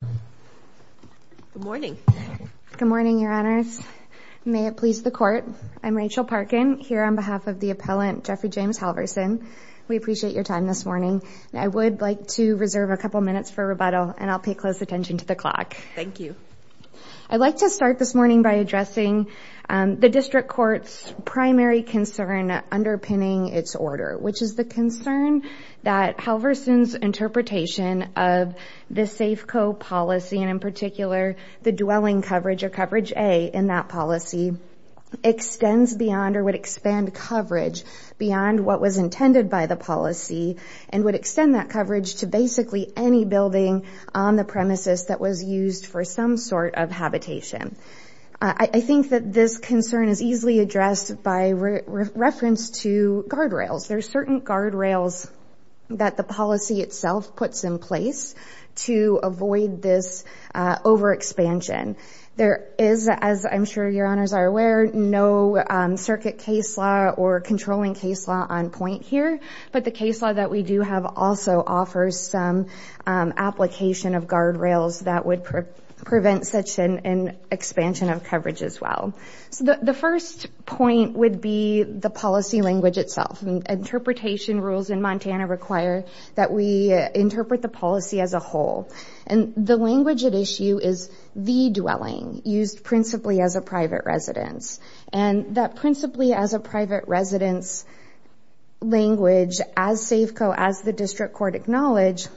Good morning. Good morning, Your Honors. May it please the Court. I'm Rachel Parkin, here on behalf of the appellant Jeffrey James Halvorson. We appreciate your time this morning. I would like to reserve a couple minutes for rebuttal and I'll pay close attention to the clock. Thank you. I'd like to start this morning by addressing the District Court's primary concern underpinning its order, which is a concern that Halvorson's interpretation of the Safeco policy and in particular the dwelling coverage or coverage A in that policy extends beyond or would expand coverage beyond what was intended by the policy and would extend that coverage to basically any building on the premises that was used for some sort of habitation. I think that this concern is easily addressed by reference to guardrails. There are certain guardrails that the policy itself puts in place to avoid this overexpansion. There is, as I'm sure Your Honors are aware, no circuit case law or controlling case law on point here, but the case law that we do have also offers some application of guardrails that would prevent such an expansion of coverage as well. So the first point would be the policy language itself. Interpretation rules in Montana require that we interpret the policy as a whole and the language at issue is the dwelling used principally as a private residence and that principally as a private residence language as Safeco, as the District Court acknowledged,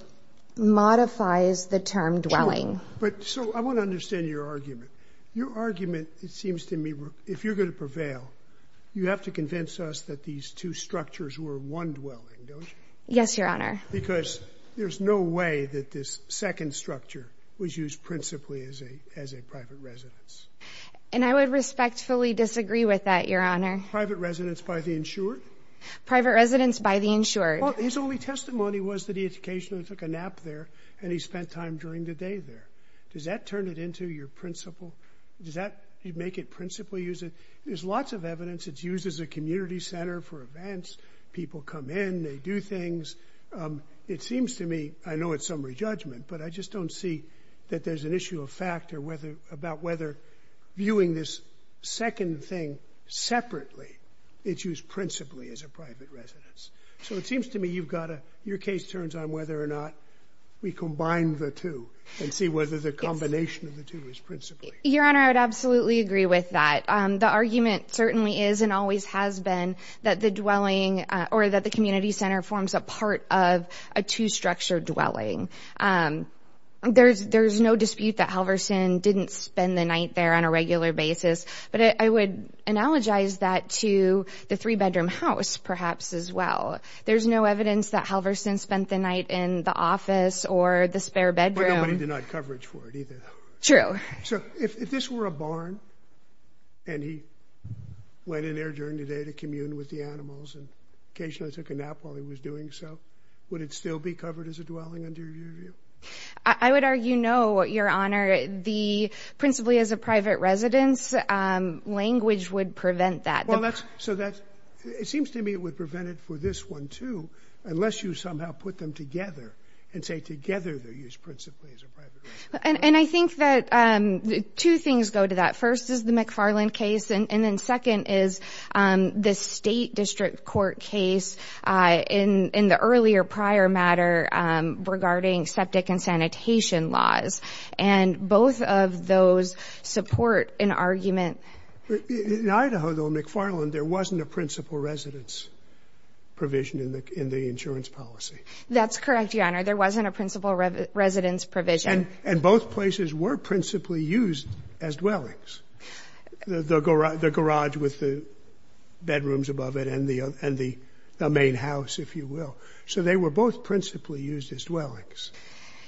modifies the term dwelling. But so I want to understand your argument. Your argument, it seems to me, if you're going to prevail, you have to convince us that these two structures were one dwelling, don't you? Yes, Your Honor. Because there's no way that this second structure was used principally as a as a private residence. And I would respectfully disagree with that, Your Honor. Private residence by the insured? Private residence by the insured. His only testimony was that the education took a nap there and he spent time during the day there. Does that turn it into your principle? Does that make it principally use it? There's lots of evidence. It's used as a community center for events. People come in, they do things. Um, it seems to me, I know it's summary judgment, but I just don't see that there's an issue of fact or whether about whether viewing this second thing separately, it's used principally as a private residence. So it seems to me you've got your case turns on whether or not we combine the two and see whether the combination of the two is principally. Your Honor, I would absolutely agree with that. Um, the argument certainly is and always has been that the dwelling or that the community center forms a part of a two structured dwelling. Um, there's no dispute that Halverson didn't spend the night there on a regular basis. But I would analogize that to the three bedroom house, perhaps as well. There's no evidence that Halverson spent the night in the office or the spare bedroom. Nobody did not coverage for it either. True. So if this were a barn and he went in there during the day to commune with the animals and occasionally took a nap while he was doing so, would it still be covered as a dwelling under your view? I would argue no. Your Honor, the principally as a private residence language would prevent that. Well, that's so that it seems to me it prevented for this one, too, unless you somehow put them together and say together they're used principally as a private. And I think that two things go to that. First is the McFarland case. And then second is, um, the state district court case in in the earlier prior matter regarding septic and sanitation laws. And both of those support an argument. In Idaho, though, McFarland, there wasn't a principal residence provision in the insurance policy. That's correct. Your Honor, there wasn't a principal residence provision. And both places were principally used as dwellings. The garage with the bedrooms above it and the and the main house, if you will. So they were both principally used as dwellings.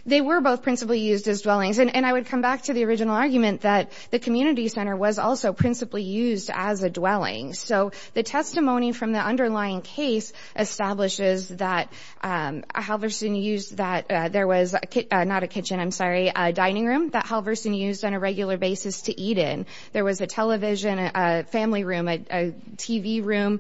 They were both principally used as dwellings. And I would come back to the original argument that the community center was also principally used as a dwelling. So the testimony from the underlying case establishes that, um, Halverson used that there was not a kitchen. I'm sorry. Dining room that Halverson used on a regular basis to eat in. There was a television family room, a TV room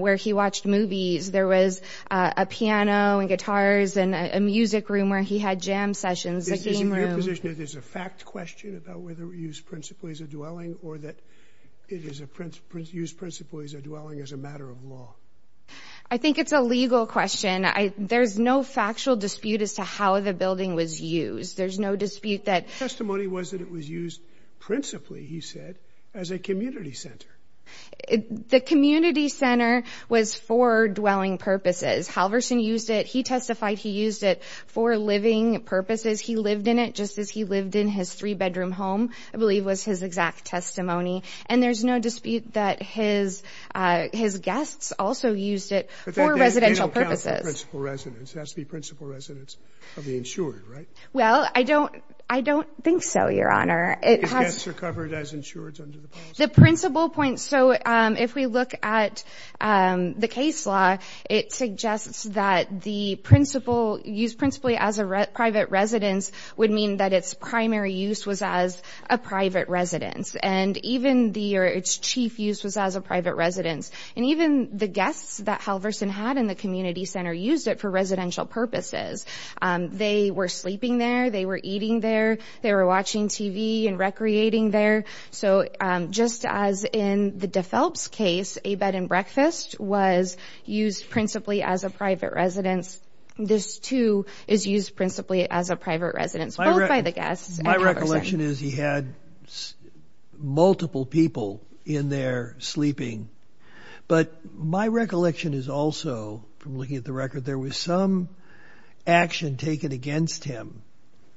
where he watched movies. There was a piano and guitars and a music room where he had jam sessions. There's a fact question about whether we use principally as a dwelling or that it is a principal use principally as a dwelling as a matter of law. I think it's a legal question. There's no factual dispute as to how the building was used. There's no dispute that testimony was that it was used principally, he said, as a community center. The community center was for dwelling purposes. Halverson used it. He testified he used it for living purposes. He lived in it just as he lived in his three bedroom home, I believe was his exact testimony. And there's no dispute that his his guests also used it for residential purposes. Principal residents. That's the principal residents of the insured, right? Well, I don't I don't think so, Your Honor. It has recovered as insured under the principal point. So if we look at, um, the case law, it suggests that the principal used principally as a private residence would mean that its primary use was as a private residence. And even the or its chief use was as a private residence. And even the guests that Halverson had in the community center used it for residential purposes. They were sleeping there. They were eating there. They were watching TV and recreating there. So just as in the de Phelps case, a bed and breakfast was used principally as a private residence. This, too, is used principally as a private residence by the guests. My recollection is he had multiple people in there sleeping. But my recollection is also from looking at the record, there was some action taken against him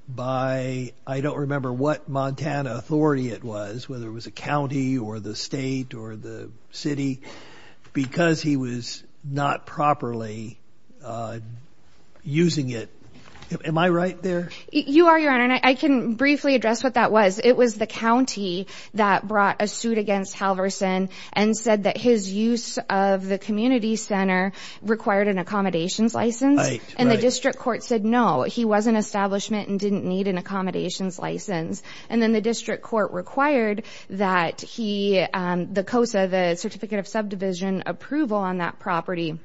by I don't remember what Montana authority it was, whether it was a county or the state or the city because he was not properly, uh, using it. Am I right there? You are, Your Honor. And I can briefly address what that was. It was the county that brought a suit against Halverson and said that his use of the community center required an accommodations license. And the district court said no, he wasn't establishment and didn't need an accommodations license. And then the district court required that he, um, the COSA, the certificate of subdivision approval on that property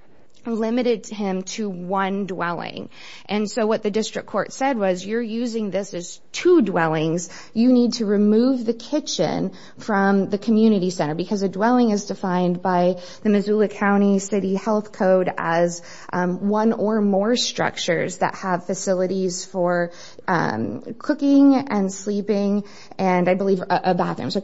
limited him to one dwelling. And so what the district court said was you're using this is two dwellings. You need to remove the kitchen from the community center because the dwelling is defined by the Missoula County City Health Code as one or more structures that have facilities for, um, cooking and sleeping and I believe a bathroom. So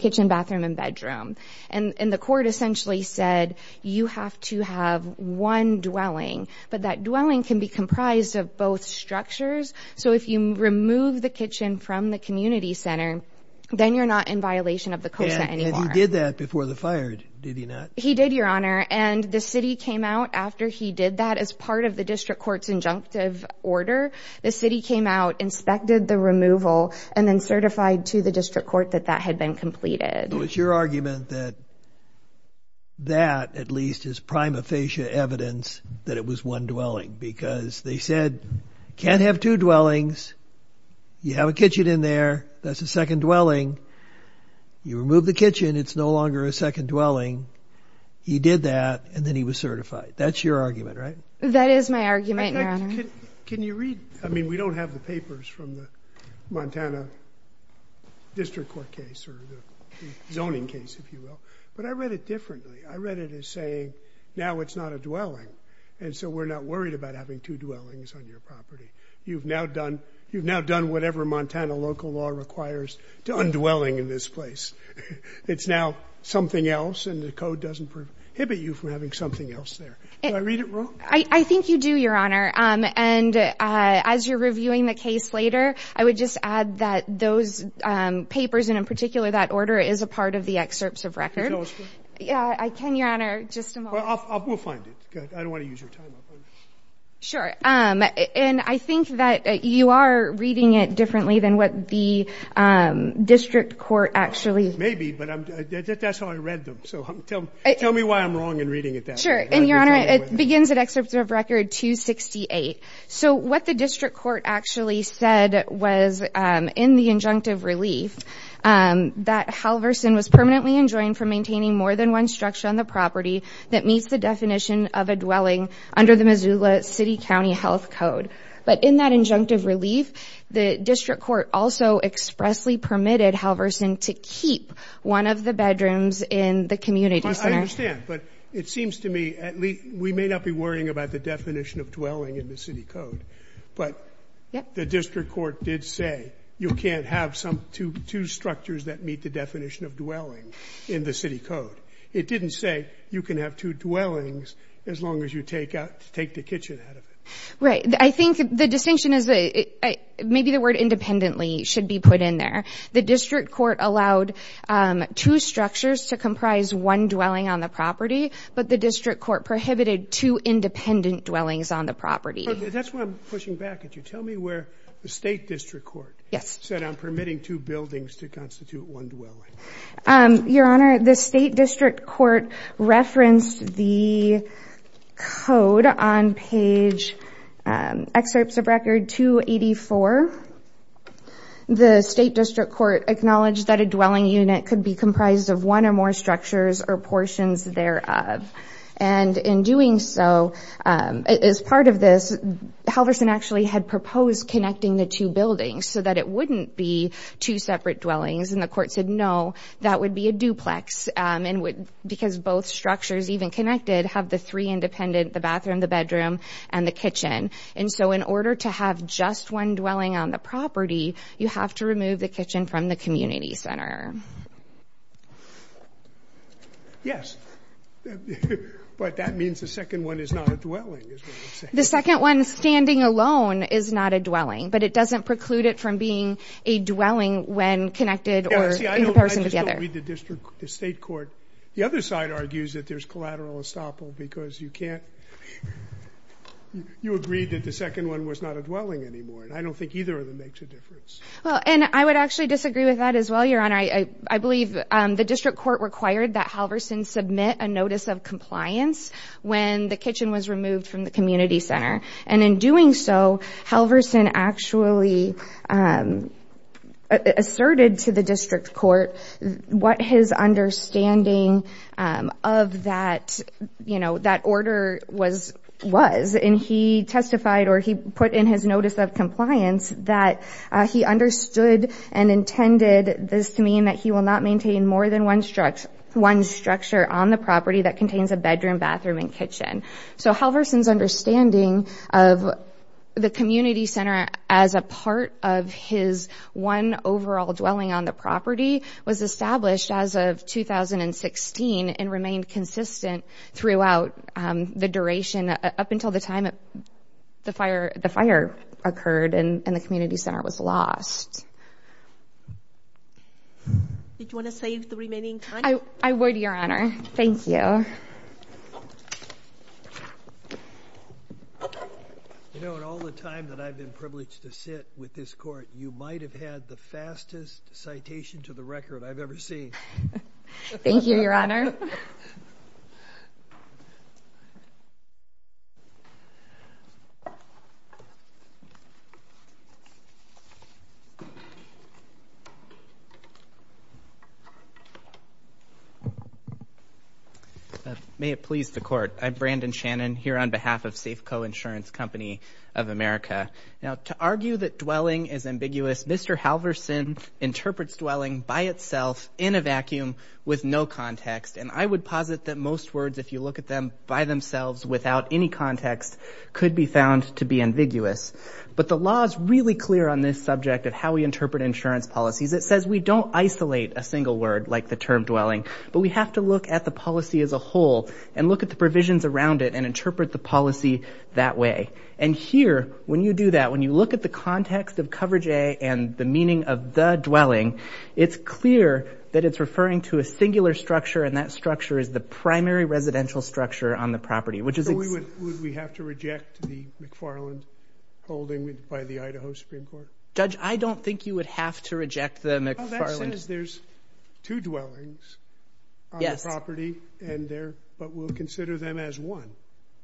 you have to have one dwelling, but that dwelling can be comprised of both structures. So if you remove the kitchen from the community center, then you're not in violation of the COSA anymore. And he did that before the fire, did he not? He did, Your Honor. And the city came out after he did that as part of the district court's injunctive order. The city came out, inspected the removal and then certified to the district court that that had been completed. It was your argument that that at least is prima facie evidence that it was one dwelling because they said you can't have two dwellings. You have a kitchen in there. That's the second dwelling. You remove the kitchen. It's no longer a second dwelling. He did that and then he was certified. That's your argument, right? That is my argument. Can you read? I mean, we don't have the papers from the Montana district court case or zoning case, if you will. But I read it differently. I read it as saying now it's not a dwelling. And so we're not worried about having two dwellings on your property. You've now done. You've now done whatever Montana local law requires to undwelling in this place. It's now something else. And the code doesn't prohibit you from having something else there. I read it wrong. I think you do, Your Honor. And as you're reviewing the case later, I would just add that those papers and in particular that order is a part of the excerpts of record. Yeah, I can, Your Honor. Just we'll find it. I don't want to use your time. Sure. And I think that you are reading it differently than what the district court actually maybe. But that's how I read them. So tell me why I'm wrong and reading it. That's sure. And, Your Honor, it begins an excerpt of record 268. So what the district court actually said was in the injunctive relief that Halverson was permanently enjoined for maintaining more than one structure on the property that meets the definition of a dwelling under the Missoula City County Health Code. But in that injunctive relief, the district court also expressly permitted Halverson to keep one of the bedrooms in the community center. I understand. But it seems to me at least we may not be worrying about the definition of dwelling in the city code. But the district court did say you can't have some two structures that meet the definition of dwelling in the city code. It didn't say you can have two dwellings as long as you take out to take the kitchen out of it. Right. I think the distinction is that maybe the word independently should be put in there. The district court allowed two structures to comprise one dwelling on the property, but the district court prohibited two independent dwellings on the property. That's what I'm pushing back at you. Tell me where the state district court said I'm permitting two buildings to constitute one dwelling. Your Honor, the state district court referenced the code on page excerpts of record 284. The state district court acknowledged that a dwelling unit could be comprised of one or more structures or portions thereof. And in doing so, as part of this, Halverson actually had proposed connecting the two buildings so that it wouldn't be two separate dwellings. And the court said no, that would be a duplex and would because both structures even connected have the three independent, the bathroom, the bedroom, and the kitchen. And so in order to have just one dwelling on the property, you have to remove the kitchen from the community center. Yes. But that means the second one is not a dwelling. The second one standing alone is not a dwelling, but it doesn't preclude it from being a dwelling when connected or in comparison to the other. I just don't read the district, the state court. The other side argues that there's collateral estoppel because you can't, you agreed that the second one was not a dwelling anymore. And I don't think either of them makes a difference. Well, and I would actually disagree with that as well, Your Honor. I believe the district court required that Halverson submit a notice of compliance when the kitchen was removed from the community center. And in doing so, Halverson actually asserted to the district court what his understanding of that, you know, that order was, and he testified or he put in his notice of compliance that he understood and intended this to mean that he will not maintain more than one structure on the property that contains a bedroom, bathroom, and kitchen. So Halverson's understanding of the community center as a part of his one overall dwelling on the property was established as of 2016 and remained consistent throughout the duration up until the time the fire occurred and the fire was extinguished. Did you want to save the remaining time? I would, Your Honor. Thank you. You know, in all the time that I've been privileged to sit with this court, you might have had the fastest citation to the record I've ever seen. Thank you, Your Honor. May it please the court. I'm Brandon Shannon here on behalf of Safeco Insurance Company of America. Now, to argue that dwelling is ambiguous, Mr. Halverson interprets dwelling by itself in a vacuum with no context. And I would posit that most words, if you look at them by themselves without any context, could be found to be ambiguous. But the law is really clear on this subject of how we interpret insurance policies. It says we don't isolate a single word like the term dwelling, but we have to look at the policy as a whole and look at the provisions around it and interpret the policy that way. And here, when you do that, when you look at the context of coverage A and the meaning of the dwelling, it's clear that it's referring to a singular structure and that structure is the primary residential structure on the property, which is... Would we have to reject the McFarland holding by the Idaho Supreme Court? Judge, I don't think you would have to reject the McFarland. Well, that says there's two dwellings on the property, but we'll consider them as one.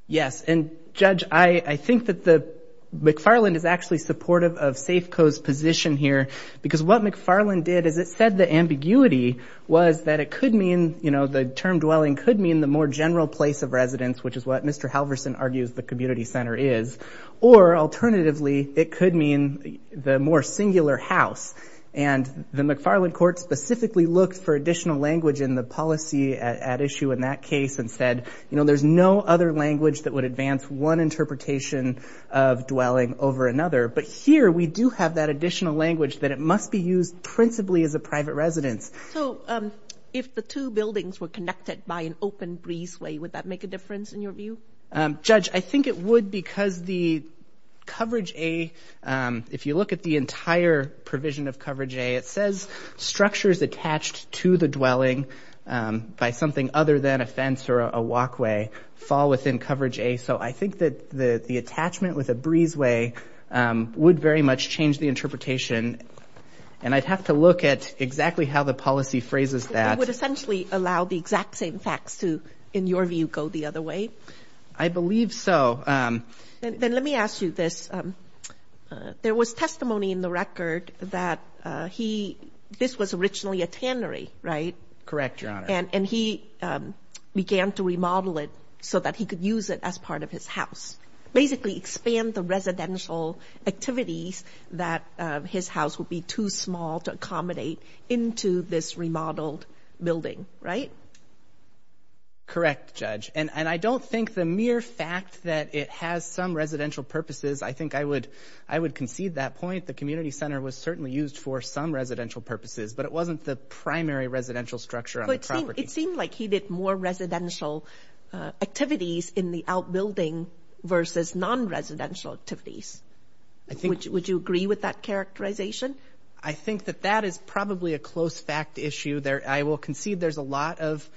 Yes. And Judge, I think that the McFarland is actually supportive of Safeco's position here, because what McFarland did is it said the ambiguity was that it could mean, you know, the term dwelling could mean the more singular house, which Dr. Halverson argues the community center is, or alternatively, it could mean the more singular house. And the McFarland court specifically looked for additional language in the policy at issue in that case and said, you know, there's no other language that would advance one interpretation of dwelling over another. But here, we do have that additional language that it must be used principally as a private residence. So if the two buildings were connected by an open breezeway, would that make a difference in your view? Judge, I think it would because the coverage A, if you look at the entire provision of coverage A, it says structures attached to the dwelling by something other than a fence or a walkway fall within coverage A. So I think that the attachment with a breezeway would very much change the interpretation. And I'd have to look at exactly how the policy phrases that. Would essentially allow the exact same facts to, in your view, go the other way? I believe so. Then let me ask you this. There was testimony in the record that he, this was originally a tannery, right? Correct, Your Honor. And he began to remodel it so that he could use it as part of his house. Basically into this remodeled building, right? Correct, Judge. And I don't think the mere fact that it has some residential purposes, I think I would concede that point. The community center was certainly used for some residential purposes, but it wasn't the primary residential structure on the property. It seemed like he did more residential activities in the outbuilding versus non-residential activities. Would you agree with that characterization? I think that that is probably a close fact issue there. I will concede there's a lot of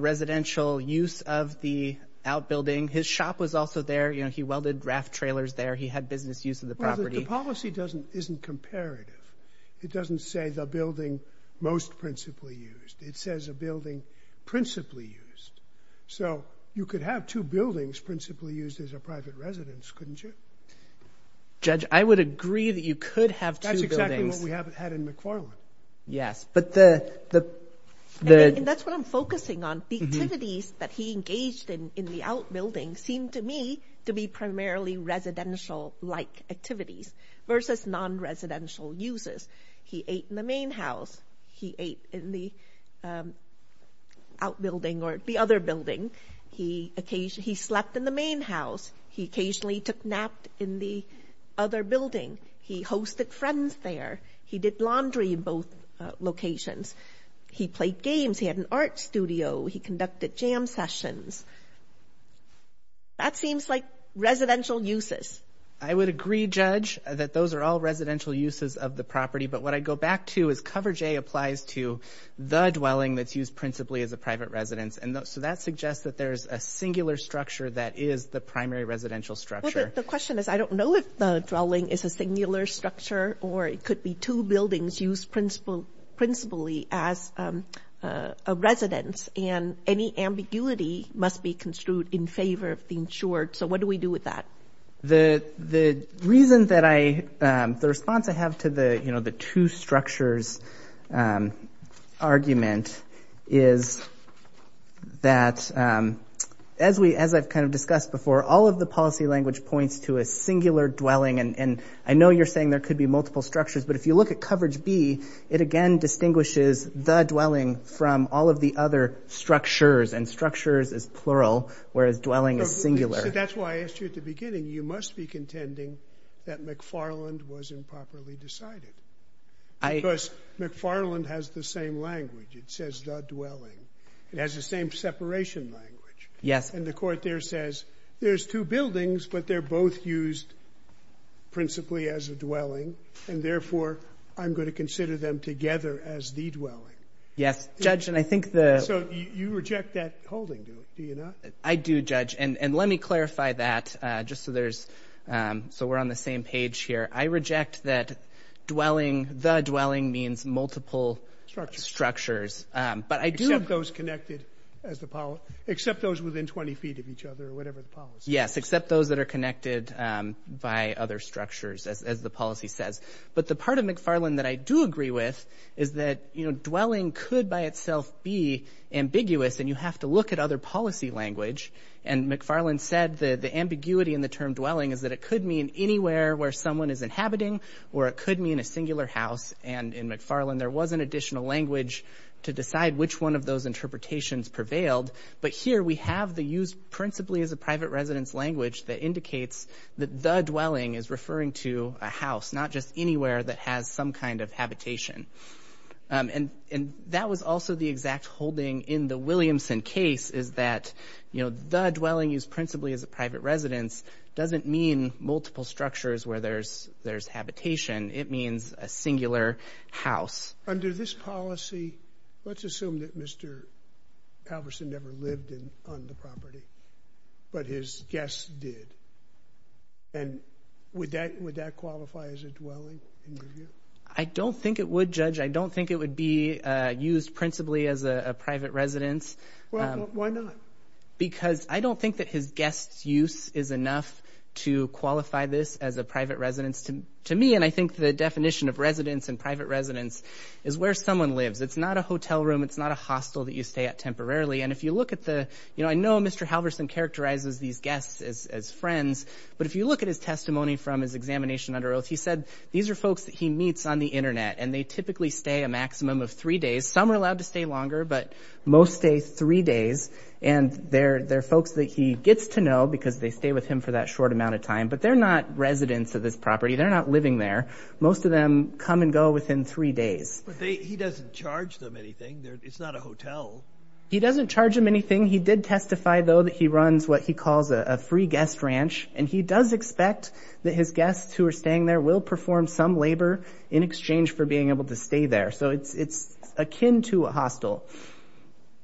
residential use of the outbuilding. His shop was also there. You know, he welded draft trailers there. He had business use of the property. The policy doesn't, isn't comparative. It doesn't say the building most principally used. It says a building principally used. So you could have two buildings principally used as a private residence, couldn't you? Judge, I would agree that you could have two buildings. That's exactly what we have had in McFarland. Yes, but the... And that's what I'm focusing on. The activities that he engaged in in the outbuilding seemed to me to be primarily residential-like activities versus non-residential uses. He ate in the main house. He ate in the outbuilding or the other building. He occasionally, he slept in the main house. He occasionally took naps in the other building. He hosted friends there. He did laundry in both locations. He played games. He had an art studio. He conducted jam sessions. That seems like residential uses. I would agree, Judge, that those are all residential uses of the property. But what I go back to is coverage A applies to the dwelling that's used principally as a private residence. And so that suggests that there's a singular structure that is the primary residential structure. The question is, I don't know if the dwelling is a singular structure or it could be two buildings used principally as a residence. And any ambiguity must be construed in favor of the insured. So what do we do with that? The reason that I, the response I have to the, you know, the two structures argument is that as we, as I've kind of discussed before, all of the policy language points to a singular dwelling. And I know you're saying there could be multiple structures, but if you look at coverage B, it again distinguishes the dwelling from all of the other structures. And structures is plural, whereas dwelling is singular. That's why I asked you at the beginning, you must be excited. Because McFarland has the same language. It says the dwelling. It has the same separation language. Yes. And the court there says there's two buildings, but they're both used principally as a dwelling. And therefore, I'm going to consider them together as the dwelling. Yes, Judge. And I think the... So you reject that holding, do you not? I do, Judge. And let me clarify that just so there's, so we're on the same page here. I reject that dwelling, the dwelling, means multiple structures. But I do... Except those connected as the... Except those within 20 feet of each other, or whatever the policy. Yes, except those that are connected by other structures, as the policy says. But the part of McFarland that I do agree with is that, you know, dwelling could by itself be ambiguous, and you have to look at other policy language. And McFarland said the ambiguity in the term dwelling is that it could mean anywhere where someone is inhabiting, or it could mean a singular house. And in McFarland, there was an additional language to decide which one of those interpretations prevailed. But here, we have the used principally as a private residence language that indicates that the dwelling is referring to a house, not just anywhere that has some kind of habitation. And that was also the exact holding in the Williamson case, is that, you know, the dwelling used principally as a private residence doesn't mean multiple structures where there's habitation. It means a singular house. Under this policy, let's assume that Mr. Halverson never lived on the property, but his guests did. And would that qualify as a dwelling? I don't think it would, Judge. I don't think it would be used principally as a private residence. Why not? Because I don't think that his guests' use is enough to qualify this as a private residence to me. And I think the definition of residence and private residence is where someone lives. It's not a hotel room. It's not a hostel that you stay at temporarily. And if you look at the, you know, I know Mr. Halverson characterizes these guests as friends, but if you look at his testimony from his examination under oath, he said these are folks that he meets on the Internet, and they typically stay a maximum of three days. Some are allowed to stay longer, but most stay three days. And they're folks that he gets to know because they stay with him for that short amount of time. But they're not residents of this property. They're not living there. Most of them come and go within three days. But he doesn't charge them anything. It's not a hotel. He doesn't charge them anything. He did testify, though, that he runs what he calls a free guest ranch. And he does expect that his guests who are staying there will perform some labor in exchange for being able to stay there. So it's akin to a hostel.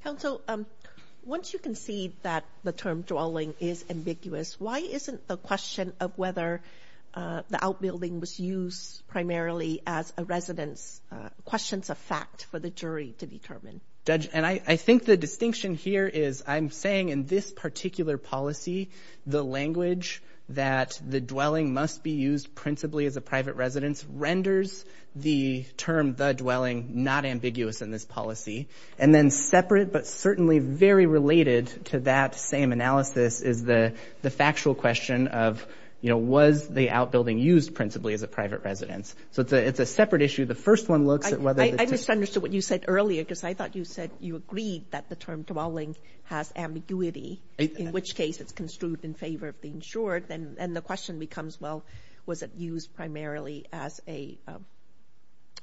Counsel, once you can see that the term dwelling is ambiguous, why isn't the question of whether the outbuilding was used primarily as a residence questions of fact for the jury to determine? Judge, and I think the distinction here is I'm saying in this particular policy, the language that the dwelling must be used principally as a private residence renders the term the dwelling not ambiguous in this policy. And then separate but certainly very related to that same analysis is the the factual question of, you know, was the outbuilding used principally as a private residence? So it's a it's a separate issue. The first one looks at whether I just understood what you said earlier, because I thought you said you agreed that the term dwelling has ambiguity, in which case it's construed in favor of being short. And the question becomes, well, was it used primarily as a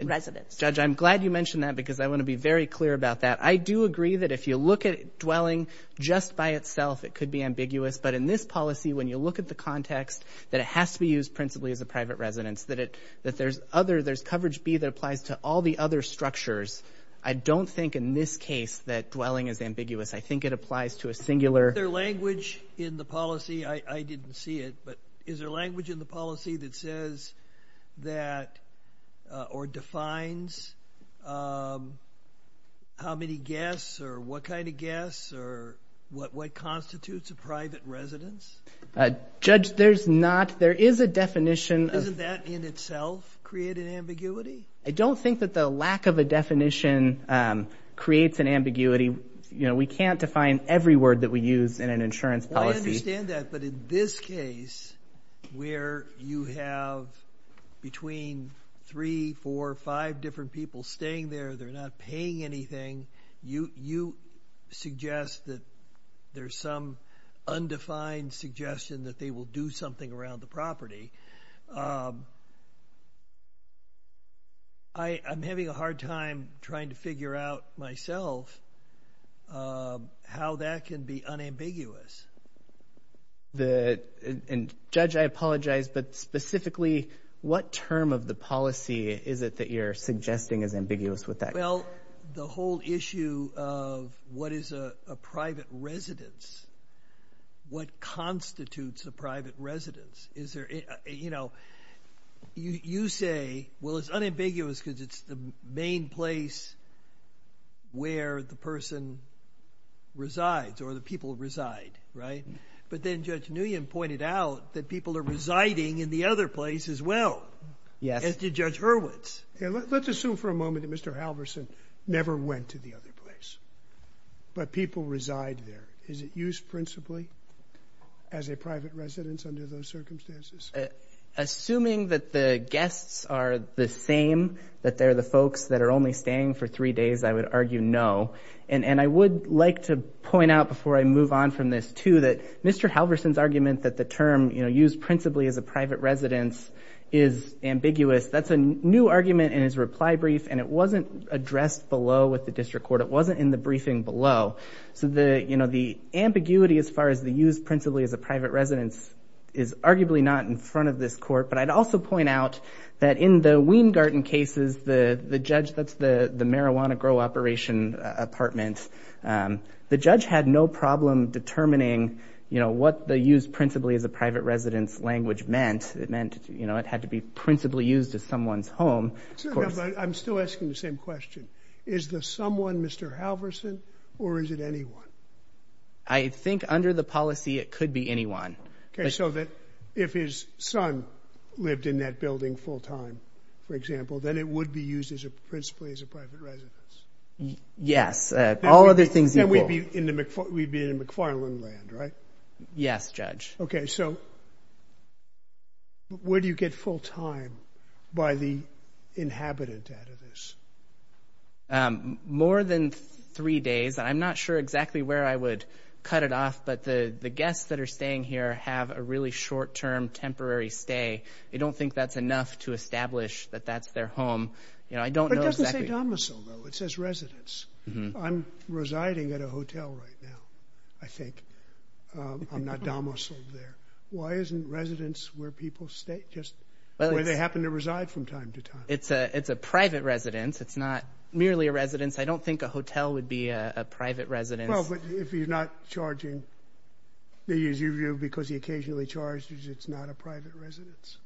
residence? Judge, I'm because I want to be very clear about that. I do agree that if you look at dwelling just by itself, it could be ambiguous. But in this policy, when you look at the context that it has to be used principally as a private residence, that it that there's other there's coverage B that applies to all the other structures. I don't think in this case that dwelling is ambiguous. I think it applies to a singular. Is there language in the policy, I didn't see it, but is how many guests or what kind of guests or what what constitutes a private residence? Judge, there's not, there is a definition. Isn't that in itself created ambiguity? I don't think that the lack of a definition creates an ambiguity. You know, we can't define every word that we use in an insurance policy. I understand that, but in this case, where you have between three, four, five different people staying there, they're not paying anything, you you suggest that there's some undefined suggestion that they will do something around the property. I'm having a hard time trying to figure out myself how that can be unambiguous. Judge, I apologize, but specifically what term of the policy is it that you're suggesting is ambiguous with that? Well, the whole issue of what is a private residence, what constitutes a private residence, is there, you know, you say, well, it's unambiguous because it's the main place where the person resides or the people reside, right? But then Judge Nguyen pointed out that people are assumed for a moment that Mr. Halvorsen never went to the other place, but people reside there. Is it used principally as a private residence under those circumstances? Assuming that the guests are the same, that they're the folks that are only staying for three days, I would argue no. And I would like to point out before I move on from this, too, that Mr. Halvorsen's argument that the term, you know, used principally as a private residence is ambiguous, that's a new argument in his reply brief, and it wasn't addressed below with the district court. It wasn't in the briefing below. So the, you know, the ambiguity as far as the use principally as a private residence is arguably not in front of this court, but I'd also point out that in the Weingarten cases, the judge, that's the the marijuana grow operation apartment, the judge had no problem determining, you know, what the use principally as a private residence language meant. It meant, you know, it had to be principally used as someone's home. I'm still asking the same question. Is the someone Mr. Halvorsen, or is it anyone? I think under the policy it could be anyone. Okay, so that if his son lived in that building full-time, for example, then it would be used as a principally as a private residence. Yes, all other things equal. We'd be in the McFarland land, right? Yes, Judge. Okay, so where do you get full-time by the inhabitant out of this? More than three days. I'm not sure exactly where I would cut it off, but the the guests that are staying here have a really short-term temporary stay. They don't think that's enough to establish that that's their home. You know, I don't know exactly. It doesn't say domicile though. It says residence. I'm residing at a hotel right now, I think. I'm not domiciled there. Why isn't residence where people stay, just where they happen to reside from time to time? It's a it's a private residence. It's not merely a residence. I don't think a hotel would be a private residence. Well, but if he's not charging, because he occasionally charges, it's not a private residence.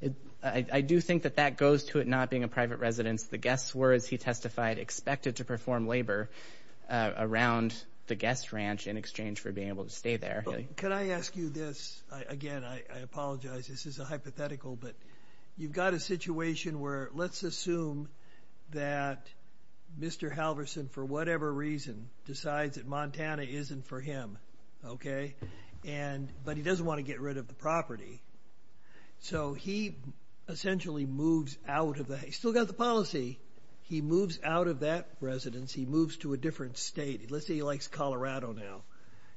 I do think that that goes to it not being a private residence. The guests were, as he testified, expected to perform labor around the guest ranch in exchange for being able to stay there. Can I ask you this? Again, I apologize. This is a hypothetical, but you've got a situation where, let's assume that Mr. Halverson, for whatever reason, decides that Montana isn't for him, okay? And, but he doesn't want to get rid of the property. So he essentially moves out of the, he's still got the policy, he moves out of that residence. He moves to a different state. Let's say he likes Colorado now.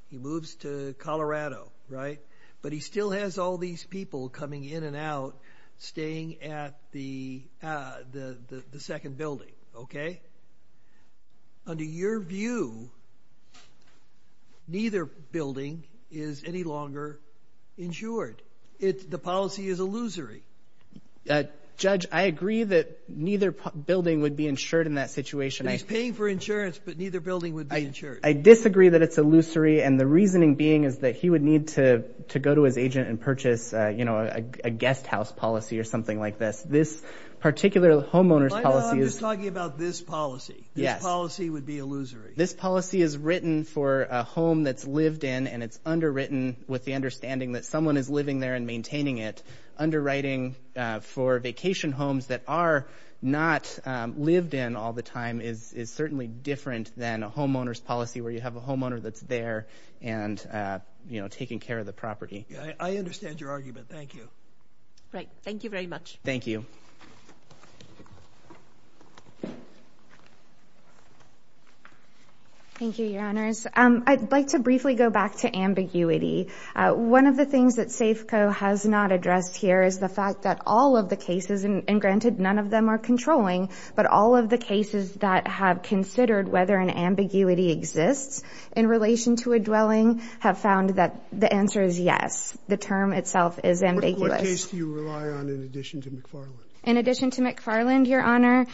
He moves to Colorado, right? But he still has all these people coming in and out staying at the the second building, okay? Under your view, neither building is any longer insured. The policy is illusory. Judge, I agree that neither building would be insured in that situation. He's paying for insurance, but neither building would be insured. I disagree that it's illusory, and the reasoning being is that he would need to to go to his agent and purchase, you know, a guest house policy or something like this. This particular homeowner's policy is... I'm just talking about this policy. Yes. This policy would be illusory. This policy is written for a home that's lived in, and it's underwritten with the understanding that someone is living there and maintaining it, underwriting for vacation homes that are not lived in all the time is certainly different than a homeowner's policy where you have a homeowner that's there and, you know, taking care of the property. I understand your argument. Thank you. Right. Thank you very much. Thank you. Thank you, Your Honors. I'd like to briefly go back to ambiguity. One of the things that Safeco has not addressed here is the fact that all of the cases and, granted, none of them are controlling, but all of the cases that have considered whether an ambiguity exists in relation to a dwelling have found that the answer is yes. The term itself is ambiguous. In addition to McFarland, Your Honor,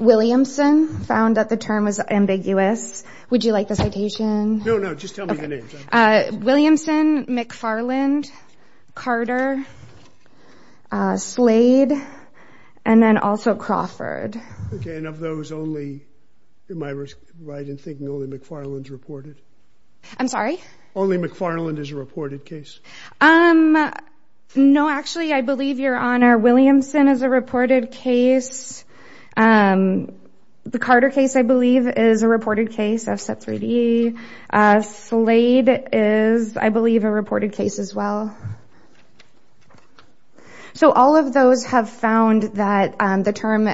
Williamson found that the term was ambiguous. Would you like the And then also Crawford. Okay, and of those only, am I right in thinking only McFarland's reported? I'm sorry? Only McFarland is a reported case? Um, no, actually, I believe, Your Honor, Williamson is a reported case. The Carter case, I believe, is a reported case. I've said 3D. Slade is, I believe, a reported case as well. So all of those have found that the term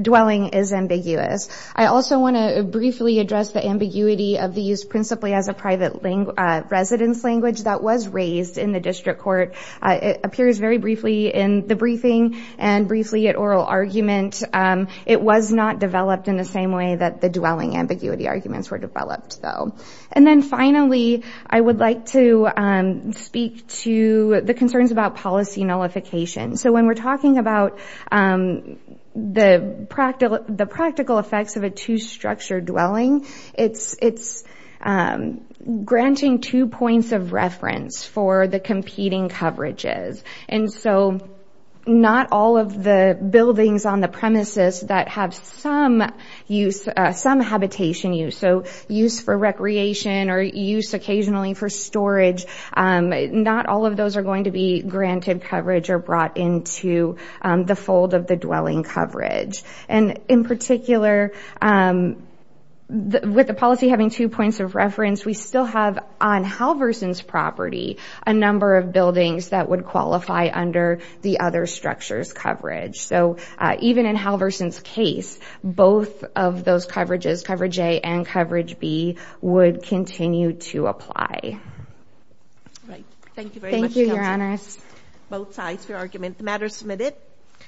dwelling is ambiguous. I also want to briefly address the ambiguity of these principally as a private residence language that was raised in the district court. It appears very briefly in the briefing and briefly at oral argument. It was not developed in the same way that the dwelling ambiguity arguments were developed, though. And then finally, I would like to speak to the concerns about policy nullification. So when we're talking about the practical effects of a two-structure dwelling, it's granting two points of reference for the competing coverages. And so not all of the buildings on the premises that have some use, some habitation use, so use for recreation or use occasionally for storage, not all of those are going to be granted coverage or brought into the fold of the dwelling coverage. And in particular, with the policy having two points of reference, we still have on Halverson's property a number of buildings that would qualify under the other structure's coverage. So even in Halverson's case, both of those coverages, Coverage A and Coverage B, would continue to apply.